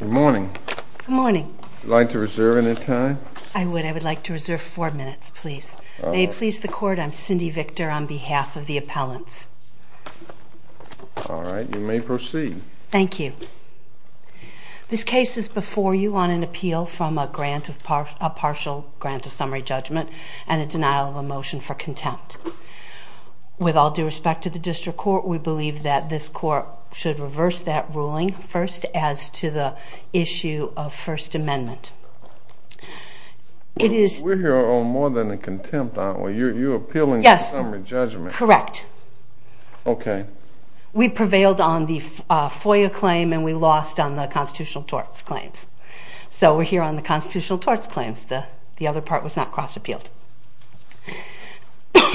Good morning. Good morning. Would you like to reserve any time? I would. I would like to reserve four minutes, please. May it please the court, I'm Cindy Victor on behalf of the appellants. All right, you may proceed. Thank you. This case is before you on an appeal from a partial grant of summary judgment and a denial of a motion for contempt. With all due respect to the district court, we believe that this court should reverse that ruling first as to the issue of First Amendment. We're here on more than a contempt aren't we? You're appealing a summary judgment. Yes, correct. Okay. We prevailed on the FOIA claim and we lost on the constitutional torts claims. So we're here on the constitutional torts claims. The other part was not cross appealed.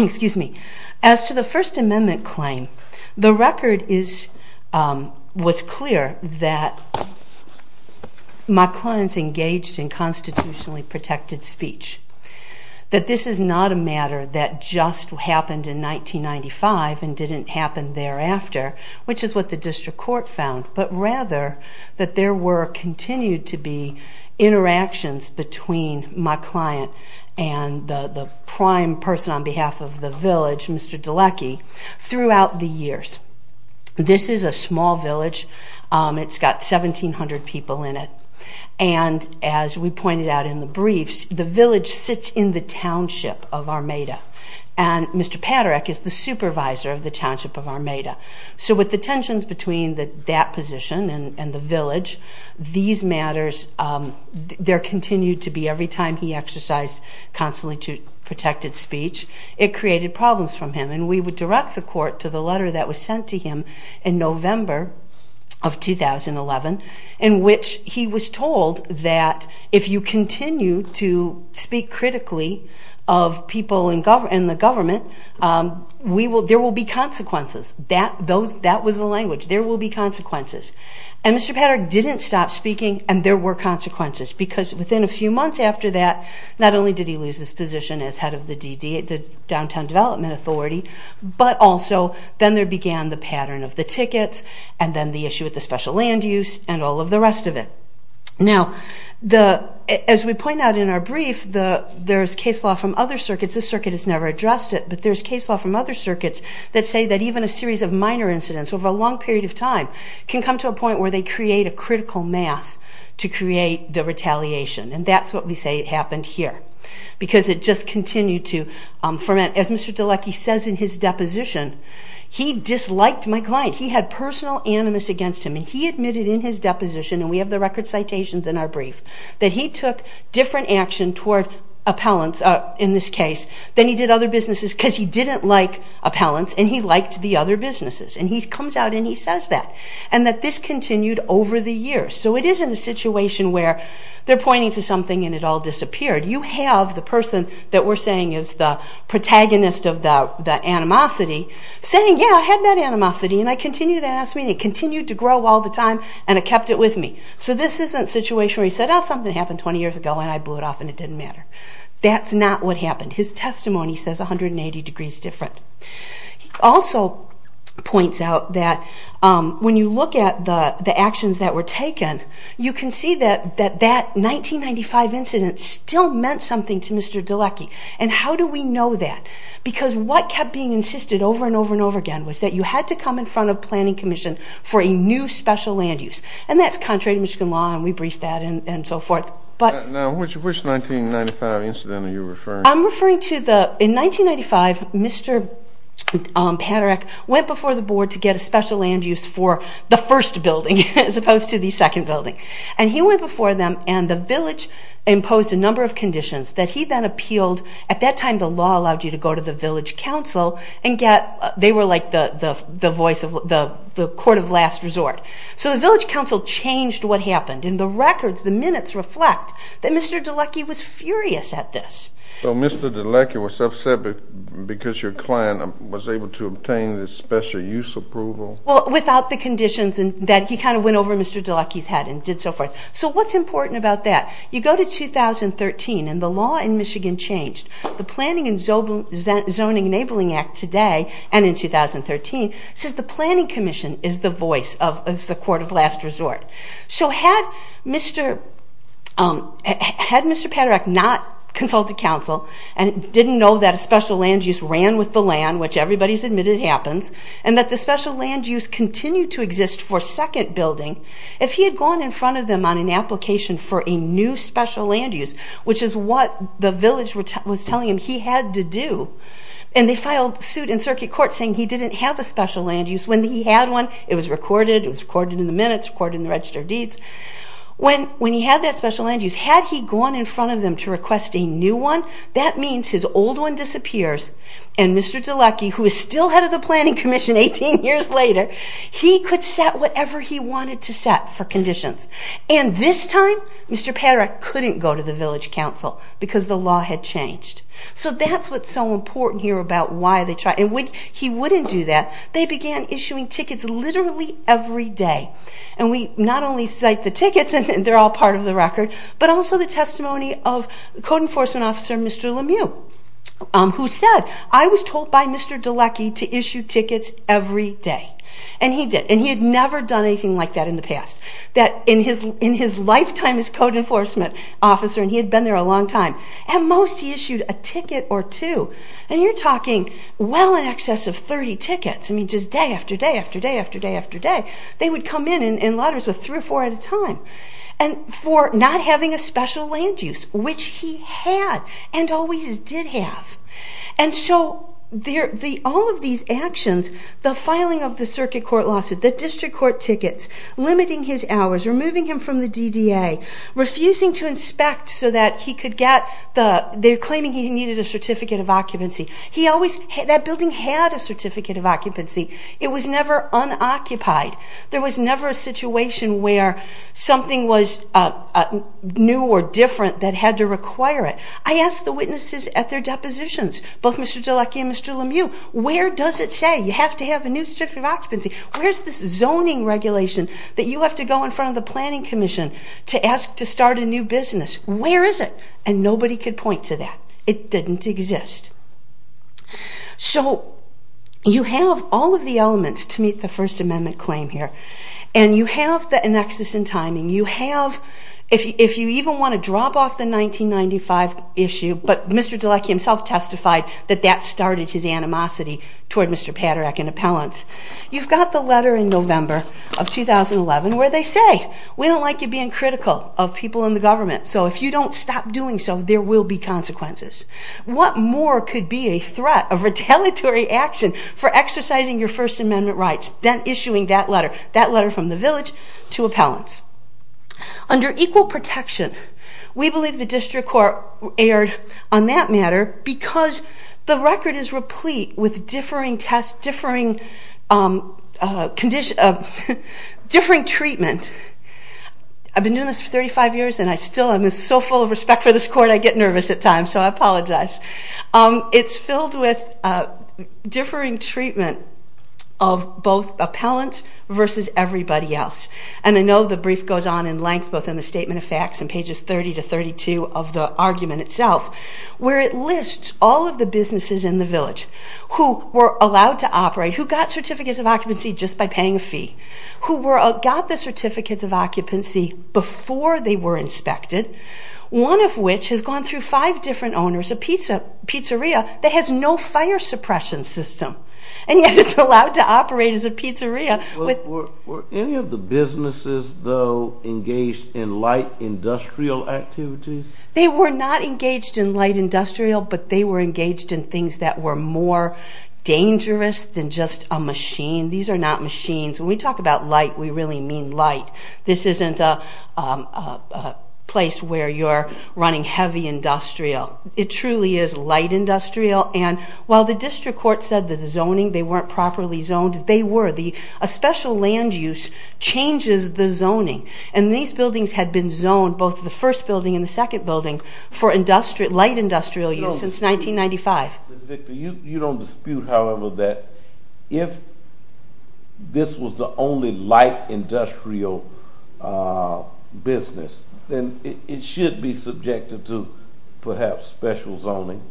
Excuse me. As to the First Amendment claim, the record was clear that my clients engaged in constitutionally protected speech. That this is not a matter that just happened in 1995 and didn't happen thereafter, which is what the district court found. But rather, that there were continued to be interactions between my client and the prime person on behalf of the village, Mr. Dulecki, throughout the years. This is a small village. It's got 1,700 people in it. And as we pointed out in the briefs, the village sits in the township of Armada. And Mr. Padereck is the supervisor of the township of Armada. So with the tensions between that position and the village, there continued to be, every time he exercised constitutionally protected speech, it created problems for him. And we would direct the court to the letter that was sent to him in November of 2011, in which he was told that if you continue to speak critically of people in the government, there will be consequences. That was the language. There will be consequences. And Mr. Padereck didn't stop speaking, and there were consequences. Because within a few months after that, not only did he lose his position as head of the Downtown Development Authority, but also then there began the pattern of the tickets, and then the issue with the special land use, and all of the rest of it. Now, as we point out in our brief, there's case law from other circuits. This circuit has never addressed it, but there's case law from other circuits that say that even a series of minor incidents over a long period of time can come to a point where they create a critical mass to create the retaliation. And that's what we say happened here. Because it just continued to ferment. As Mr. DeLucci says in his deposition, he disliked my client. He had personal animus against him, and he admitted in his deposition, and we have the record citations in our brief, that he took different action toward appellants in this case than he did other businesses because he didn't like appellants, and he liked the other businesses. And he comes out and he says that. And that this continued over the years. So it isn't a situation where they're pointing to something and it all disappeared. You have the person that we're saying is the protagonist of the animosity saying, yeah, I had that animosity, and I continued that animosity, and it continued to grow all the time, and it kept it with me. So this isn't a situation where he said, oh, something happened 20 years ago, and I blew it off, and it didn't matter. That's not what happened. His testimony says 180 degrees different. He also points out that when you look at the actions that were taken, you can see that that 1995 incident still meant something to Mr. DeLucci. And how do we know that? Because what kept being insisted over and over and over again was that you had to come in front of Planning Commission for a new special land use. And that's contrary to Michigan law, and we briefed that and so forth. Which 1995 incident are you referring to? I'm referring to the, in 1995, Mr. Padereck went before the board to get a special land use for the first building as opposed to the second building. And he went before them, and the village imposed a number of conditions that he then appealed. At that time, the law allowed you to go to the village council and get, they were like the voice of the court of last resort. So the village council changed what happened, and the records, the minutes reflect that Mr. DeLucci was furious at this. So Mr. DeLucci was upset because your client was able to obtain the special use approval? Well, without the conditions that he kind of went over Mr. DeLucci's head and did so forth. So what's important about that? You go to 2013, and the law in Michigan changed. The Planning and Zoning Enabling Act today, and in 2013, says the Planning Commission is the voice of the court of last resort. So had Mr. Padereck not consulted council and didn't know that a special land use ran with the land, which everybody's admitted happens, and that the special land use continued to exist for second building, if he had gone in front of them on an application for a new special land use, which is what the village was telling him he had to do, and they filed suit in circuit court saying he didn't have a special land use. When he had one, it was recorded, it was recorded in the minutes, recorded in the Register of Deeds. When he had that special land use, had he gone in front of them to request a new one, that means his old one disappears, and Mr. DeLucci, who is still head of the Planning Commission 18 years later, he could set whatever he wanted to set for conditions. And this time, Mr. Padereck couldn't go to the village council because the law had changed. So that's what's so important here about why they tried, and when he wouldn't do that, they began issuing tickets literally every day, and we not only cite the tickets, and they're all part of the record, but also the testimony of Code Enforcement Officer Mr. Lemieux, who said, I was told by Mr. DeLucci to issue tickets every day, and he did, and he had never done anything like that in the past. In his lifetime as Code Enforcement Officer, and he had been there a long time, at most he issued a ticket or two, and you're talking well in excess of 30 tickets, I mean just day after day after day after day after day, they would come in in lotters with three or four at a time, and for not having a special land use, which he had, and always did have. And so all of these actions, the filing of the circuit court lawsuit, the district court tickets, limiting his hours, removing him from the DDA, refusing to inspect so that he could get, they're claiming he needed a certificate of occupancy. Mr. DeLucci and Mr. Lemieux, where does it say you have to have a new certificate of occupancy? Where's this zoning regulation that you have to go in front of the Planning Commission to ask to start a new business? Where is it? And nobody could point to that. It didn't exist. So you have all of the elements to meet the First Amendment claim here, and you have the annexes and timing, you have, if you even want to drop off the 1995 issue, but Mr. DeLucci himself testified that that started his animosity toward Mr. Paderak and appellants, you've got the letter in November of 2011 where they say, we don't like you being critical of people in the government, so if you don't stop doing so there will be consequences. What more could be a threat, a retaliatory action for exercising your First Amendment rights than issuing that letter, that letter from the village to appellants? Under equal protection, we believe the district court erred on that matter because the record is replete with differing tests, differing treatment. I've been doing this for 35 years and I still am so full of respect for this court I get nervous at times, so I apologize. It is filled with differing treatment of both appellants versus everybody else. And I know the brief goes on in length both in the Statement of Facts and pages 30 to 32 of the argument itself where it lists all of the businesses in the village who were allowed to operate, who got certificates of occupancy just by paying a fee, who got the certificates of occupancy before they were inspected, one of which has gone through five different owners, a pizza place, a pizzeria that has no fire suppression system, and yet it's allowed to operate as a pizzeria. Were any of the businesses, though, engaged in light industrial activities? They were not engaged in light industrial, but they were engaged in things that were more dangerous than just a machine. These are not machines. When we talk about light, we really mean light. This isn't a place where you're running heavy industrial. It truly is light industrial. And while the district court said that the zoning, they weren't properly zoned, they were. A special land use changes the zoning, and these buildings had been zoned, both the first building and the second building, for light industrial use since 1995. Ms. Victor, you don't dispute, however, that if this was the only light industrial business, then it should be subjected to, perhaps, special zoning.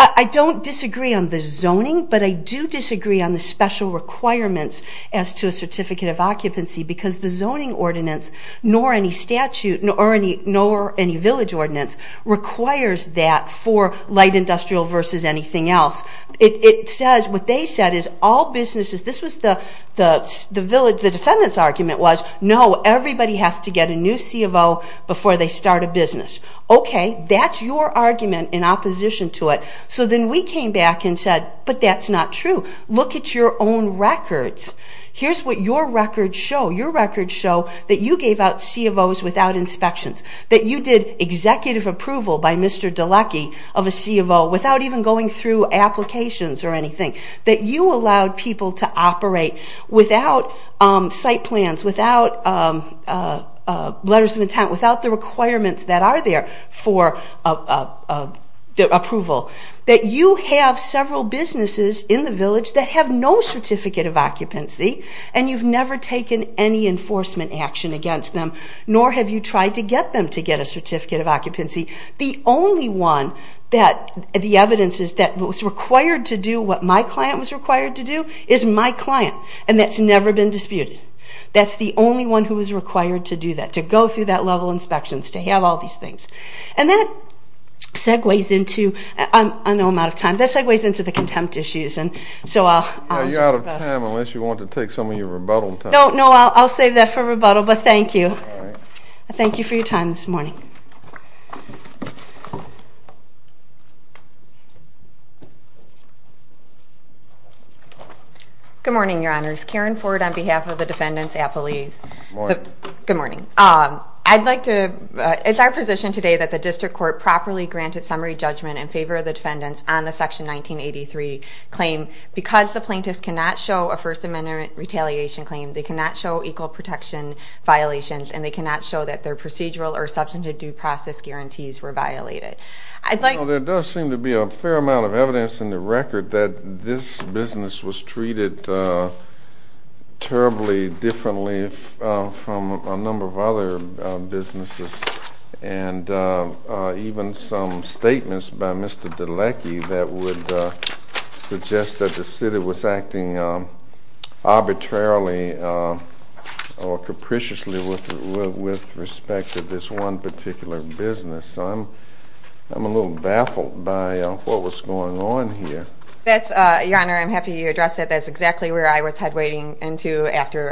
I don't disagree on the zoning, but I do disagree on the special requirements as to a certificate of occupancy, because the zoning ordinance, nor any statute, nor any village ordinance, requires that for light industrial versus anything else. It says, what they said is, all businesses, this was the defendant's argument was, no, everybody has to get a new CFO before they start a business. Okay, that's your argument in opposition to it. So then we came back and said, but that's not true. Look at your own records. Here's what your records show. Your records show that you gave out CFOs without inspections. That you did executive approval by Mr. DeLucky of a CFO without even going through applications or anything. That you allowed people to operate without site plans, without letters of intent, without the requirements that are there for approval. That you have several businesses in the village that have no certificate of occupancy, and you've never taken any enforcement action against them, nor have you tried to get them to get a certificate of occupancy. The only one that the evidence is that was required to do what my client was required to do is my client, and that's never been disputed. That's the only one who was required to do that, to go through that level of inspections, to have all these things. And that segues into, I know I'm out of time, that segues into the contempt issues. You're out of time unless you want to take some of your rebuttal time. No, I'll save that for rebuttal, but thank you. Thank you for your time this morning. Good morning, Your Honors. Karen Ford on behalf of the defendants' appellees. Good morning. Good morning. I'd like to, it's our position today that the district court properly granted summary judgment in favor of the defendants on the section 1983 claim. Because the plaintiffs cannot show a First Amendment retaliation claim, they cannot show equal protection violations, and they cannot show that their procedural or substantive due process guarantees were violated. There does seem to be a fair amount of evidence in the record that this business was treated terribly differently from a number of other businesses. And even some statements by Mr. DeLecky that would suggest that the city was acting arbitrarily or capriciously with respect to this one particular business. So I'm a little baffled by what was going on here. That's, Your Honor, I'm happy you addressed that. That's exactly where I was headwaying into after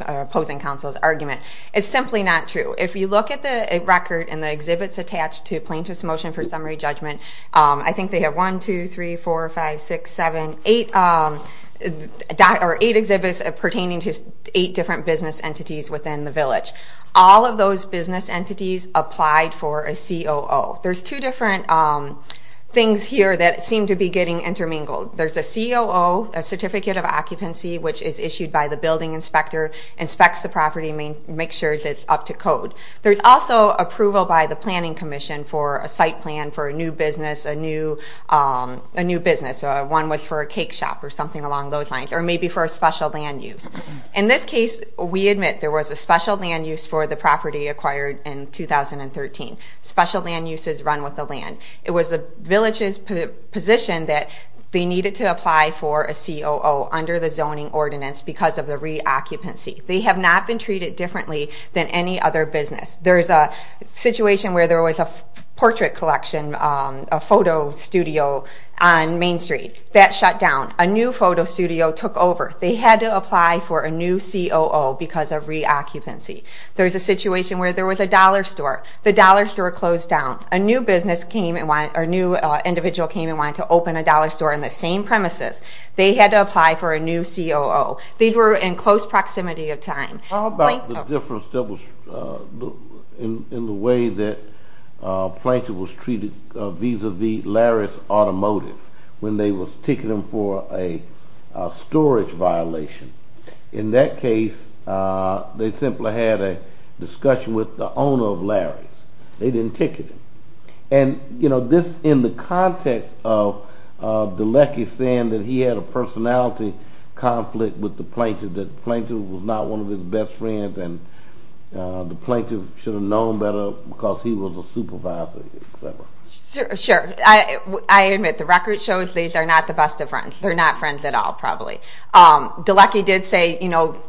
opposing counsel's argument. It's simply not true. If you look at the record and the exhibits attached to Plaintiff's Motion for Summary Judgment, I think they have 1, 2, 3, 4, 5, 6, 7, 8, or 8 exhibits pertaining to 8 different business entities within the village. All of those business entities applied for a COO. There's two different things here that seem to be getting intermingled. There's a COO, a Certificate of Occupancy, which is issued by the building inspector, inspects the property, makes sure it's up to code. There's also approval by the Planning Commission for a site plan for a new business, a new business. One was for a cake shop or something along those lines, or maybe for a special land use. In this case, we admit there was a special land use for the property acquired in 2013. Special land use is run with the land. It was the village's position that they needed to apply for a COO under the zoning ordinance because of the reoccupancy. They have not been treated differently than any other business. There's a situation where there was a portrait collection, a photo studio on Main Street. That shut down. A new photo studio took over. They had to apply for a new COO because of reoccupancy. There's a situation where there was a dollar store. The dollar store closed down. A new individual came and wanted to open a dollar store in the same premises. They had to apply for a new COO. These were in close proximity of time. How about the difference in the way that Plankton was treated vis-a-vis Larry's Automotive when they were ticketing for a storage violation? In that case, they simply had a discussion with the owner of Larry's. They didn't ticket him. In the context of DeLucky saying that he had a personality conflict with the Plankton, that Plankton was not one of his best friends and the Plankton should have known better because he was a supervisor, et cetera. Sure. I admit, the record shows these are not the best of friends. They're not friends at all, probably. DeLucky did say Mr.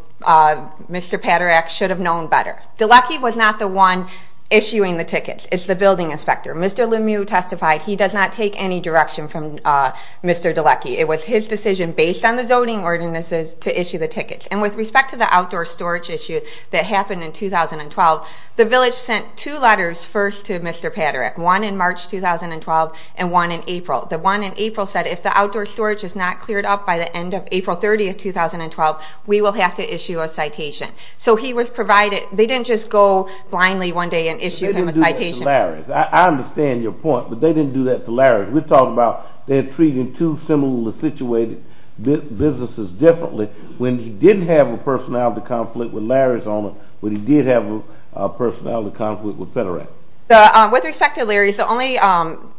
Paderak should have known better. DeLucky was not the one issuing the tickets. It's the building inspector. Mr. Lemieux testified he does not take any direction from Mr. DeLucky. It was his decision based on the zoning ordinances to issue the tickets. With respect to the outdoor storage issue that happened in 2012, the village sent two letters first to Mr. Paderak, one in March 2012 and one in April. The one in April said if the outdoor storage is not cleared up by the end of April 30, 2012, we will have to issue a citation. So he was provided, they didn't just go blindly one day and issue him a citation. They didn't do that to Larry's. I understand your point, but they didn't do that to Larry's. We're talking about they're treating two similarly situated businesses differently when he didn't have a personality conflict with Larry's owner, but he did have a personality conflict with Paderak. With respect to Larry's, the only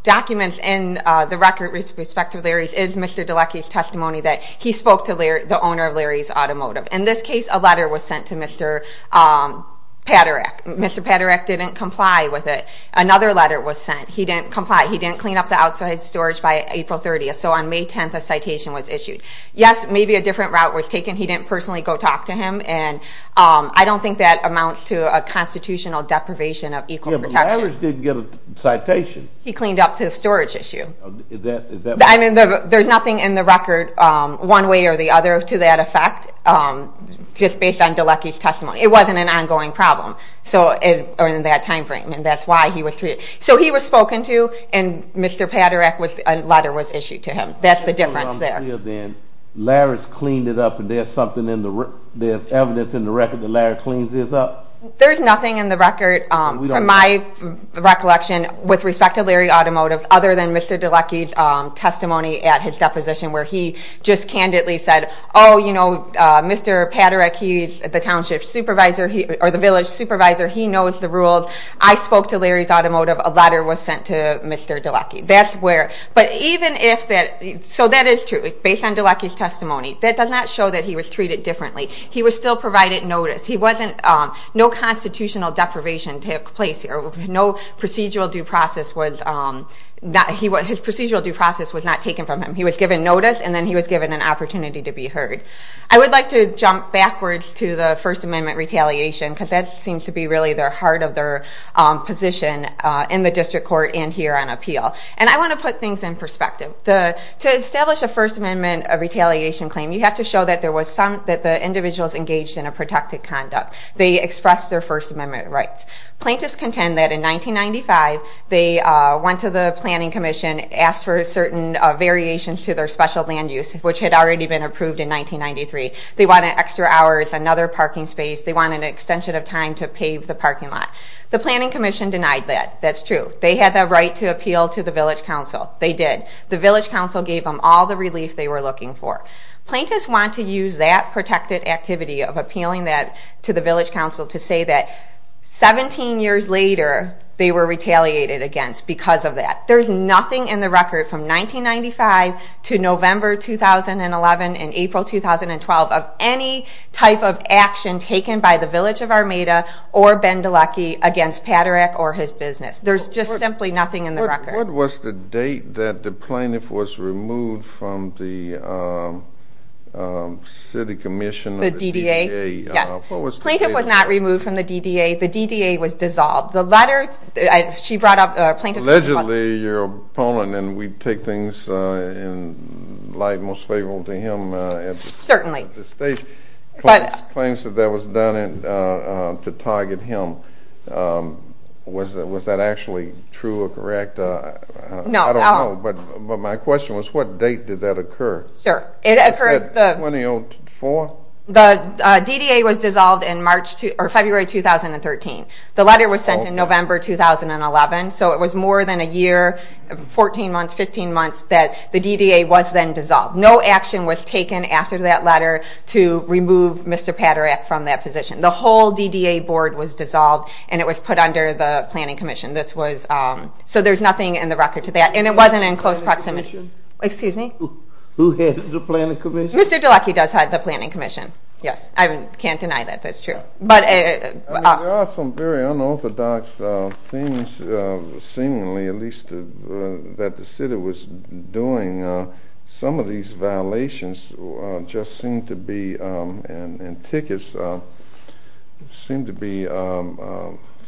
documents in the record with respect to Larry's is Mr. DeLucky's testimony that he spoke to the owner of Larry's Automotive. In this case, a letter was sent to Mr. Paderak. Mr. Paderak didn't comply with it. Another letter was sent. He didn't comply. He didn't clean up the outdoor storage by April 30th. So on May 10th, a citation was issued. Yes, maybe a different route was taken. He didn't personally go talk to him, and I don't think that amounts to a constitutional deprivation of equal protection. Yeah, but Larry's didn't get a citation. He cleaned up the storage issue. I mean, there's nothing in the record one way or the other to that effect, just based on DeLucky's testimony. It wasn't an ongoing problem or in that time frame, and that's why he was treated. So he was spoken to, and Mr. Paderak, a letter was issued to him. That's the difference there. Larry's cleaned it up, and there's evidence in the record that Larry cleans this up? There's nothing in the record, from my recollection, with respect to Larry Automotive, other than Mr. DeLucky's testimony at his deposition where he just candidly said, Oh, you know, Mr. Paderak, he's the township supervisor, or the village supervisor. He knows the rules. I spoke to Larry's Automotive. A letter was sent to Mr. DeLucky. That's where, but even if that, so that is true. Based on DeLucky's testimony, that does not show that he was treated differently. He was still provided notice. He wasn't, no constitutional deprivation took place here. No procedural due process was, his procedural due process was not taken from him. He was given notice, and then he was given an opportunity to be heard. I would like to jump backwards to the First Amendment retaliation, because that seems to be really the heart of their position in the district court and here on appeal. And I want to put things in perspective. To establish a First Amendment retaliation claim, you have to show that there was some, that the individuals engaged in a protected conduct. They expressed their First Amendment rights. Plaintiffs contend that in 1995, they went to the Planning Commission, asked for certain variations to their special land use, which had already been approved in 1993. They wanted extra hours, another parking space. They wanted an extension of time to pave the parking lot. The Planning Commission denied that. That's true. They had the right to appeal to the Village Council. They did. The Village Council gave them all the relief they were looking for. Plaintiffs want to use that protected activity of appealing that to the Village Council to say that 17 years later, they were retaliated against because of that. There's nothing in the record from 1995 to November 2011 and April 2012 of any type of action taken by the Village of Armada or Ben Delucky against Paderak or his business. There's just simply nothing in the record. What was the date that the plaintiff was removed from the City Commission? The DDA? Yes. What was the date of that? The plaintiff was not removed from the DDA. The DDA was dissolved. Allegedly, your opponent, and we take things in light and most favorable to him at this stage, claims that that was done to target him. Was that actually true or correct? No. I don't know, but my question was what date did that occur? Sure. Was that 2004? The DDA was dissolved in February 2013. The letter was sent in November 2011, so it was more than a year, 14 months, 15 months, that the DDA was then dissolved. No action was taken after that letter to remove Mr. Paderak from that position. The whole DDA board was dissolved, and it was put under the Planning Commission. So there's nothing in the record to that, and it wasn't in close proximity. Who had the Planning Commission? Mr. Delucky does have the Planning Commission. Yes. I can't deny that that's true. There are some very unorthodox things, seemingly at least, that the City was doing. Some of these violations just seem to be, and tickets seem to be,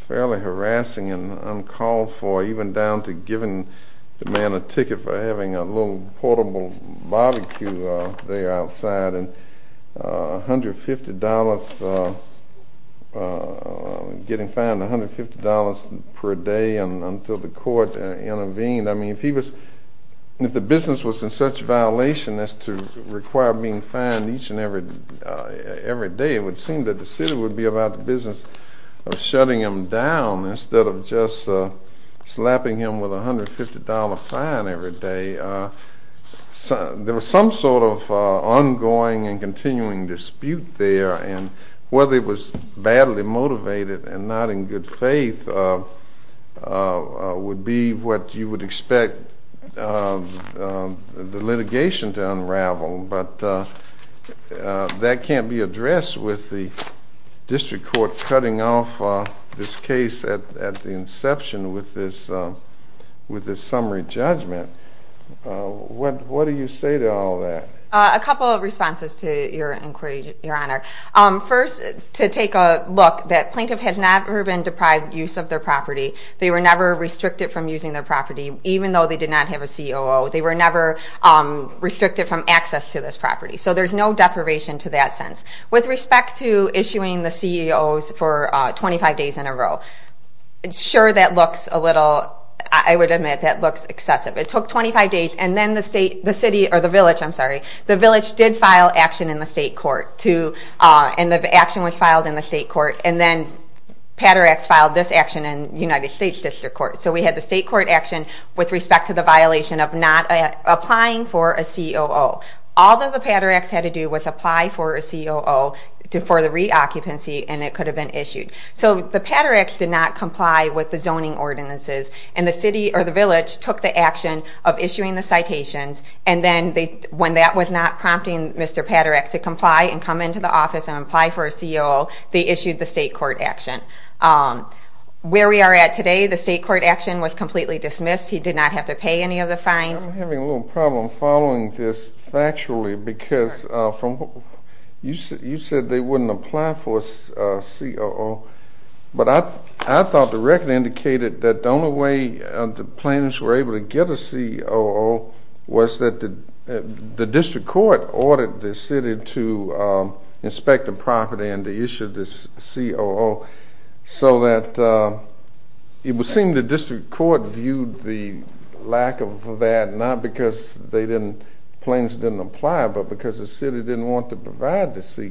fairly harassing and uncalled for, even down to giving the man a ticket for having a little portable barbecue there outside and $150, getting fined $150 per day until the court intervened. I mean, if the business was in such violation as to require being fined each and every day, it would seem that the City would be about the business of shutting him down instead of just slapping him with a $150 fine every day. There was some sort of ongoing and continuing dispute there, and whether it was badly motivated and not in good faith would be what you would expect the litigation to unravel. But that can't be addressed with the district court cutting off this case at the inception with this summary judgment. What do you say to all that? A couple of responses to your inquiry, Your Honor. First, to take a look, that plaintiff has never been deprived use of their property. They were never restricted from using their property, even though they did not have a COO. They were never restricted from access to this property. So there's no deprivation to that sense. With respect to issuing the CEOs for 25 days in a row, sure, that looks a little, I would admit, that looks excessive. It took 25 days, and then the city, or the village, I'm sorry, the village did file action in the state court, and the action was filed in the state court, and then PADERAX filed this action in the United States District Court. So we had the state court action with respect to the violation of not applying for a COO. All that the PADERAX had to do was apply for a COO for the reoccupancy, and it could have been issued. So the PADERAX did not comply with the zoning ordinances, and the city or the village took the action of issuing the citations, and then when that was not prompting Mr. PADERAX to comply and come into the office and apply for a COO, they issued the state court action. Where we are at today, the state court action was completely dismissed. He did not have to pay any of the fines. I'm having a little problem following this factually because you said they wouldn't apply for a COO, but I thought the record indicated that the only way the plaintiffs were able to get a COO was that the district court ordered the city to inspect the property and to issue this COO, so that it would seem the district court viewed the lack of that not because the plaintiffs didn't apply, but because the city didn't want to provide the COO.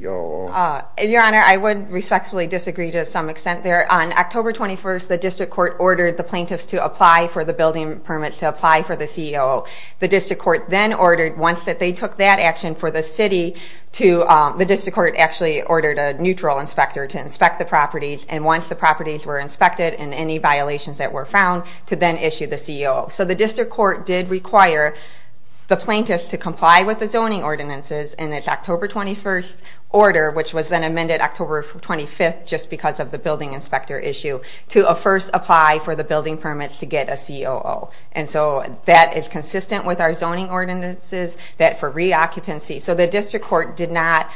Your Honor, I would respectfully disagree to some extent there. On October 21st, the district court ordered the plaintiffs to apply for the building permits to apply for the COO. The district court then ordered, once that they took that action for the city, the district court actually ordered a neutral inspector to inspect the properties, and once the properties were inspected and any violations that were found, to then issue the COO. The district court did require the plaintiffs to comply with the zoning ordinances in its October 21st order, which was then amended October 25th just because of the building inspector issue, to first apply for the building permits to get a COO. That is consistent with our zoning ordinances that for reoccupancy. So the district court did not...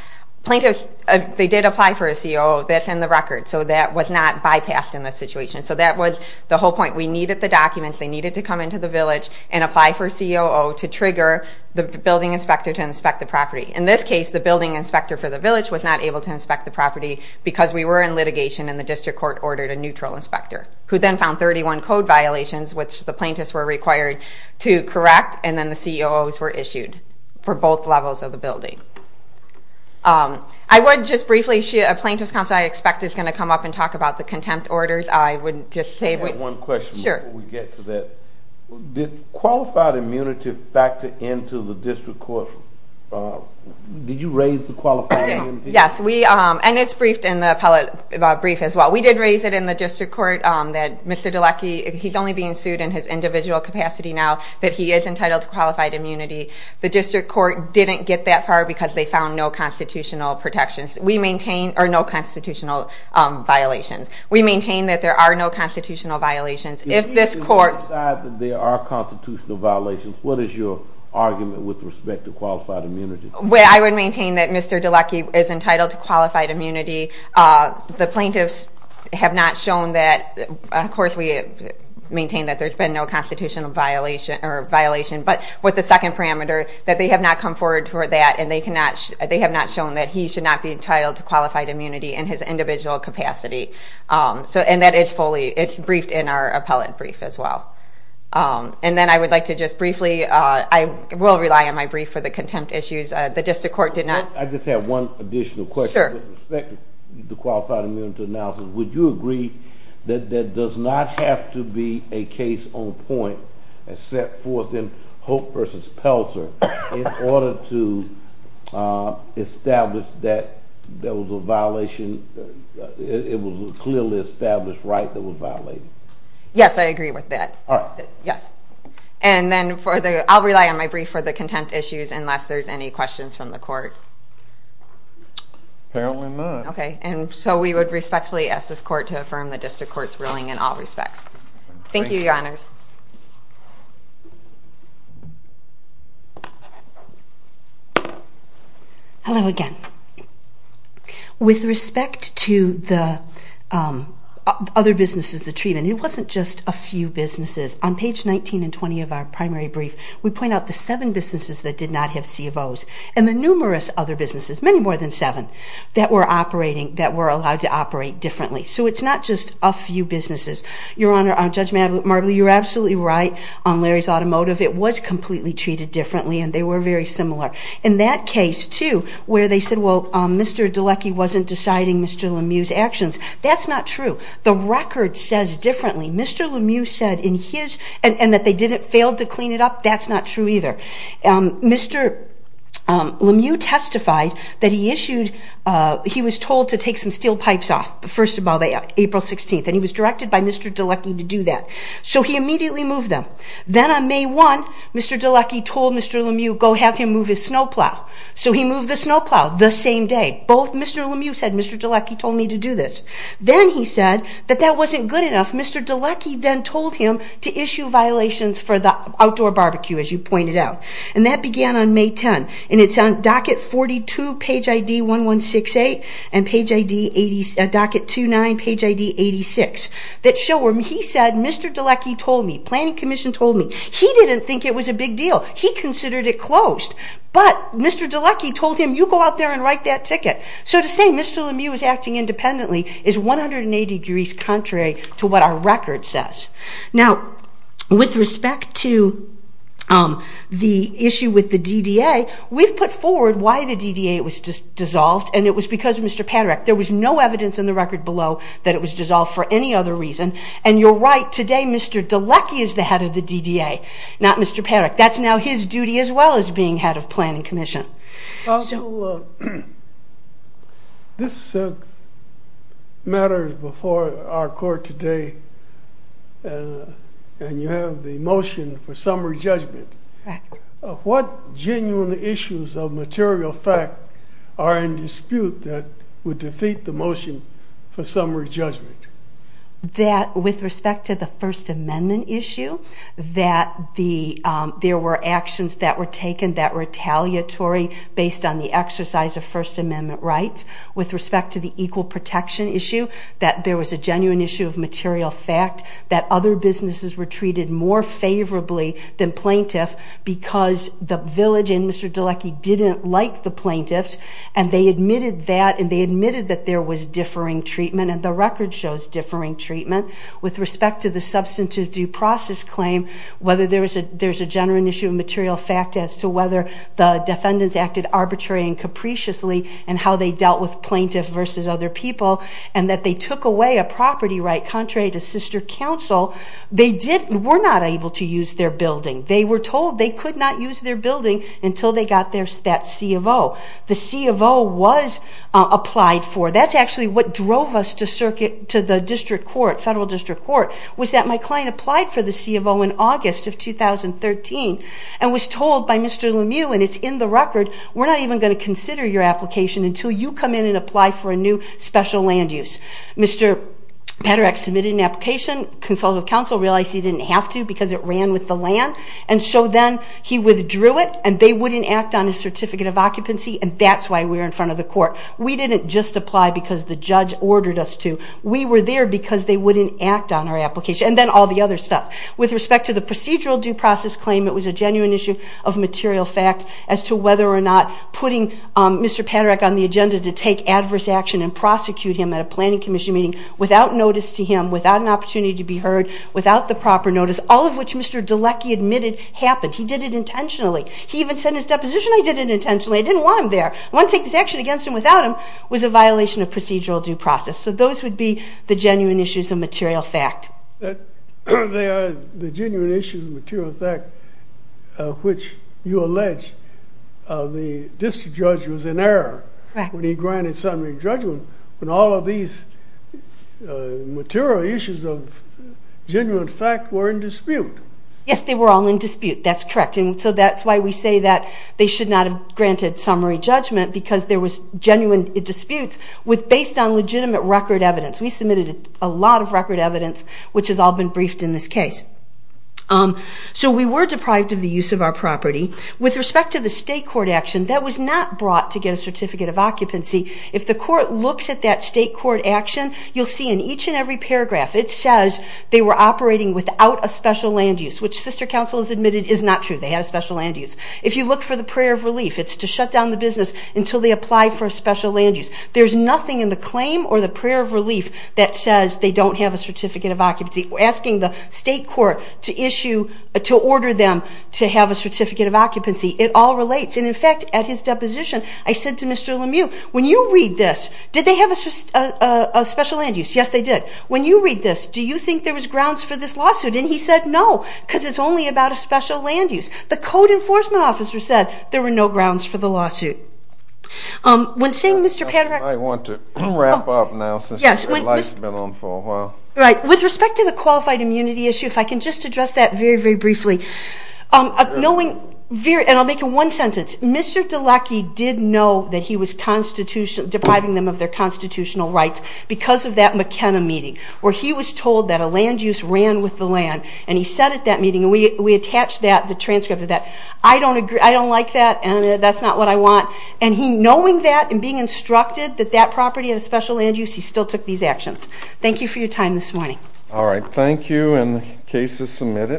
Plaintiffs, they did apply for a COO. That's in the record. So that was not bypassed in this situation. So that was the whole point. We needed the documents. They needed to come into the village and apply for a COO to trigger the building inspector to inspect the property. In this case, the building inspector for the village was not able to inspect the property because we were in litigation and the district court ordered a neutral inspector, who then found 31 code violations, which the plaintiffs were required to correct, and then the COOs were issued for both levels of the building. I would just briefly... A plaintiff's counsel, I expect, is going to come up and talk about the contempt orders. I would just say... I have one question before we get to that. Did qualified immunity factor into the district court? Did you raise the qualifying immunity? Yes, and it's briefed in the appellate brief as well. We did raise it in the district court that Mr. DeLocke, he's only being sued in his individual capacity now, that he is entitled to qualified immunity. The district court didn't get that far because they found no constitutional protections. We maintain... or no constitutional violations. We maintain that there are no constitutional violations. If this court... If you decide that there are constitutional violations, what is your argument with respect to qualified immunity? I would maintain that Mr. DeLocke is entitled to qualified immunity. The plaintiffs have not shown that... Of course, we maintain that there's been no constitutional violation, but with the second parameter that they have not come forward for that and they have not shown that he should not be entitled to qualified immunity in his individual capacity. And that is fully... it's briefed in our appellate brief as well. And then I would like to just briefly... I will rely on my brief for the contempt issues. The district court did not... I just have one additional question with respect to the qualified immunity analysis. Would you agree that that does not have to be a case on point and set forth in Hope v. Pelzer in order to establish that there was a violation... it was a clearly established right that was violated? Yes, I agree with that. All right. Yes. And then for the... I'll rely on my brief for the contempt issues unless there's any questions from the court. Apparently not. Okay. And so we would respectfully ask this court to affirm the district court's ruling in all respects. Thank you, Your Honors. Hello again. With respect to the other businesses, the treatment, it wasn't just a few businesses. On page 19 and 20 of our primary brief, we point out the seven businesses that did not have CFOs and the numerous other businesses, many more than seven, that were operating... that were allowed to operate differently. So it's not just a few businesses. Your Honor, Judge Marbley, you're absolutely right on Larry's Automotive. It was completely treated differently, and they were very similar. In that case, too, where they said, well, Mr. DeLucky wasn't deciding Mr. Lemieux's actions, that's not true. The record says differently. Mr. Lemieux said in his... and that they didn't fail to clean it up, that's not true either. Mr. Lemieux testified that he issued... he was told to take some steel pipes off, first of all, April 16th, and he was directed by Mr. DeLucky to do that. So he immediately moved them. Then on May 1, Mr. DeLucky told Mr. Lemieux, go have him move his snowplow. So he moved the snowplow the same day. Both Mr. Lemieux said, Mr. DeLucky told me to do this. Then he said that that wasn't good enough. Mr. DeLucky then told him to issue violations for the outdoor barbecue, as you pointed out. And that began on May 10. And it's on docket 42, page ID 1168, and docket 29, page ID 86, that show where he said, Mr. DeLucky told me, Planning Commission told me, he didn't think it was a big deal. He considered it closed. But Mr. DeLucky told him, you go out there and write that ticket. So to say Mr. Lemieux is acting independently is 180 degrees contrary to what our record says. Now, with respect to the issue with the DDA, we've put forward why the DDA was dissolved, and it was because of Mr. Paderec. There was no evidence in the record below that it was dissolved for any other reason. And you're right, today Mr. DeLucky is the head of the DDA, not Mr. Paderec. That's now his duty as well as being head of Planning Commission. Also, this matters before our court today, and you have the motion for summary judgment. Correct. What genuine issues of material fact are in dispute that would defeat the motion for summary judgment? That with respect to the First Amendment issue, that there were actions that were taken that were retaliatory based on the exercise of First Amendment rights. With respect to the equal protection issue, that there was a genuine issue of material fact, that other businesses were treated more favorably than plaintiff because the village and Mr. DeLucky didn't like the plaintiffs, and they admitted that, and they admitted that there was differing treatment, and the record shows differing treatment. With respect to the substantive due process claim, whether there's a genuine issue of material fact as to whether the defendants acted arbitrary and capriciously, and how they dealt with plaintiff versus other people, and that they took away a property right contrary to sister council, they were not able to use their building. They were told they could not use their building until they got that C of O. The C of O was applied for. That's actually what drove us to the district court, federal district court, was that my client applied for the C of O in August of 2013 and was told by Mr. Lemieux, and it's in the record, we're not even going to consider your application until you come in and apply for a new special land use. Mr. Padereck submitted an application. Consultative council realized he didn't have to because it ran with the land, and so then he withdrew it, and they wouldn't act on his certificate of occupancy, and that's why we were in front of the court. We didn't just apply because the judge ordered us to. We were there because they wouldn't act on our application, and then all the other stuff. With respect to the procedural due process claim, it was a genuine issue of material fact as to whether or not putting Mr. Padereck on the agenda to take adverse action and prosecute him at a planning commission meeting without notice to him, without an opportunity to be heard, without the proper notice, all of which Mr. Delecky admitted happened. He did it intentionally. He even said in his deposition, I did it intentionally. I didn't want him there. I want to take this action against him without him, was a violation of procedural due process. So those would be the genuine issues of material fact. The genuine issues of material fact of which you allege the district judge was in error when he granted summary judgment when all of these material issues of genuine fact were in dispute. Yes, they were all in dispute. That's correct. So that's why we say that they should not have granted summary judgment because there was genuine disputes based on legitimate record evidence. We submitted a lot of record evidence, which has all been briefed in this case. So we were deprived of the use of our property. With respect to the state court action, that was not brought to get a certificate of occupancy. If the court looks at that state court action, you'll see in each and every paragraph, it says they were operating without a special land use, which sister counsel has admitted is not true. They had a special land use. If you look for the prayer of relief, it's to shut down the business until they apply for a special land use. There's nothing in the claim or the prayer of relief that says they don't have a certificate of occupancy. Asking the state court to order them to have a certificate of occupancy, it all relates. And, in fact, at his deposition, I said to Mr. Lemieux, when you read this, did they have a special land use? Yes, they did. When you read this, do you think there was grounds for this lawsuit? And he said, no, because it's only about a special land use. The code enforcement officer said there were no grounds for the lawsuit. When saying Mr. Padraic... I want to wrap up now since the lights have been on for a while. Right. With respect to the qualified immunity issue, if I can just address that very, very briefly. And I'll make it one sentence. Mr. DeLocke did know that he was depriving them of their constitutional rights because of that McKenna meeting, where he was told that a land use ran with the land. And he said at that meeting, and we attached that, the transcript of that, I don't agree, I don't like that, and that's not what I want. And he, knowing that and being instructed that that property had a special land use, he still took these actions. Thank you for your time this morning. All right. Thank you, and the case is submitted.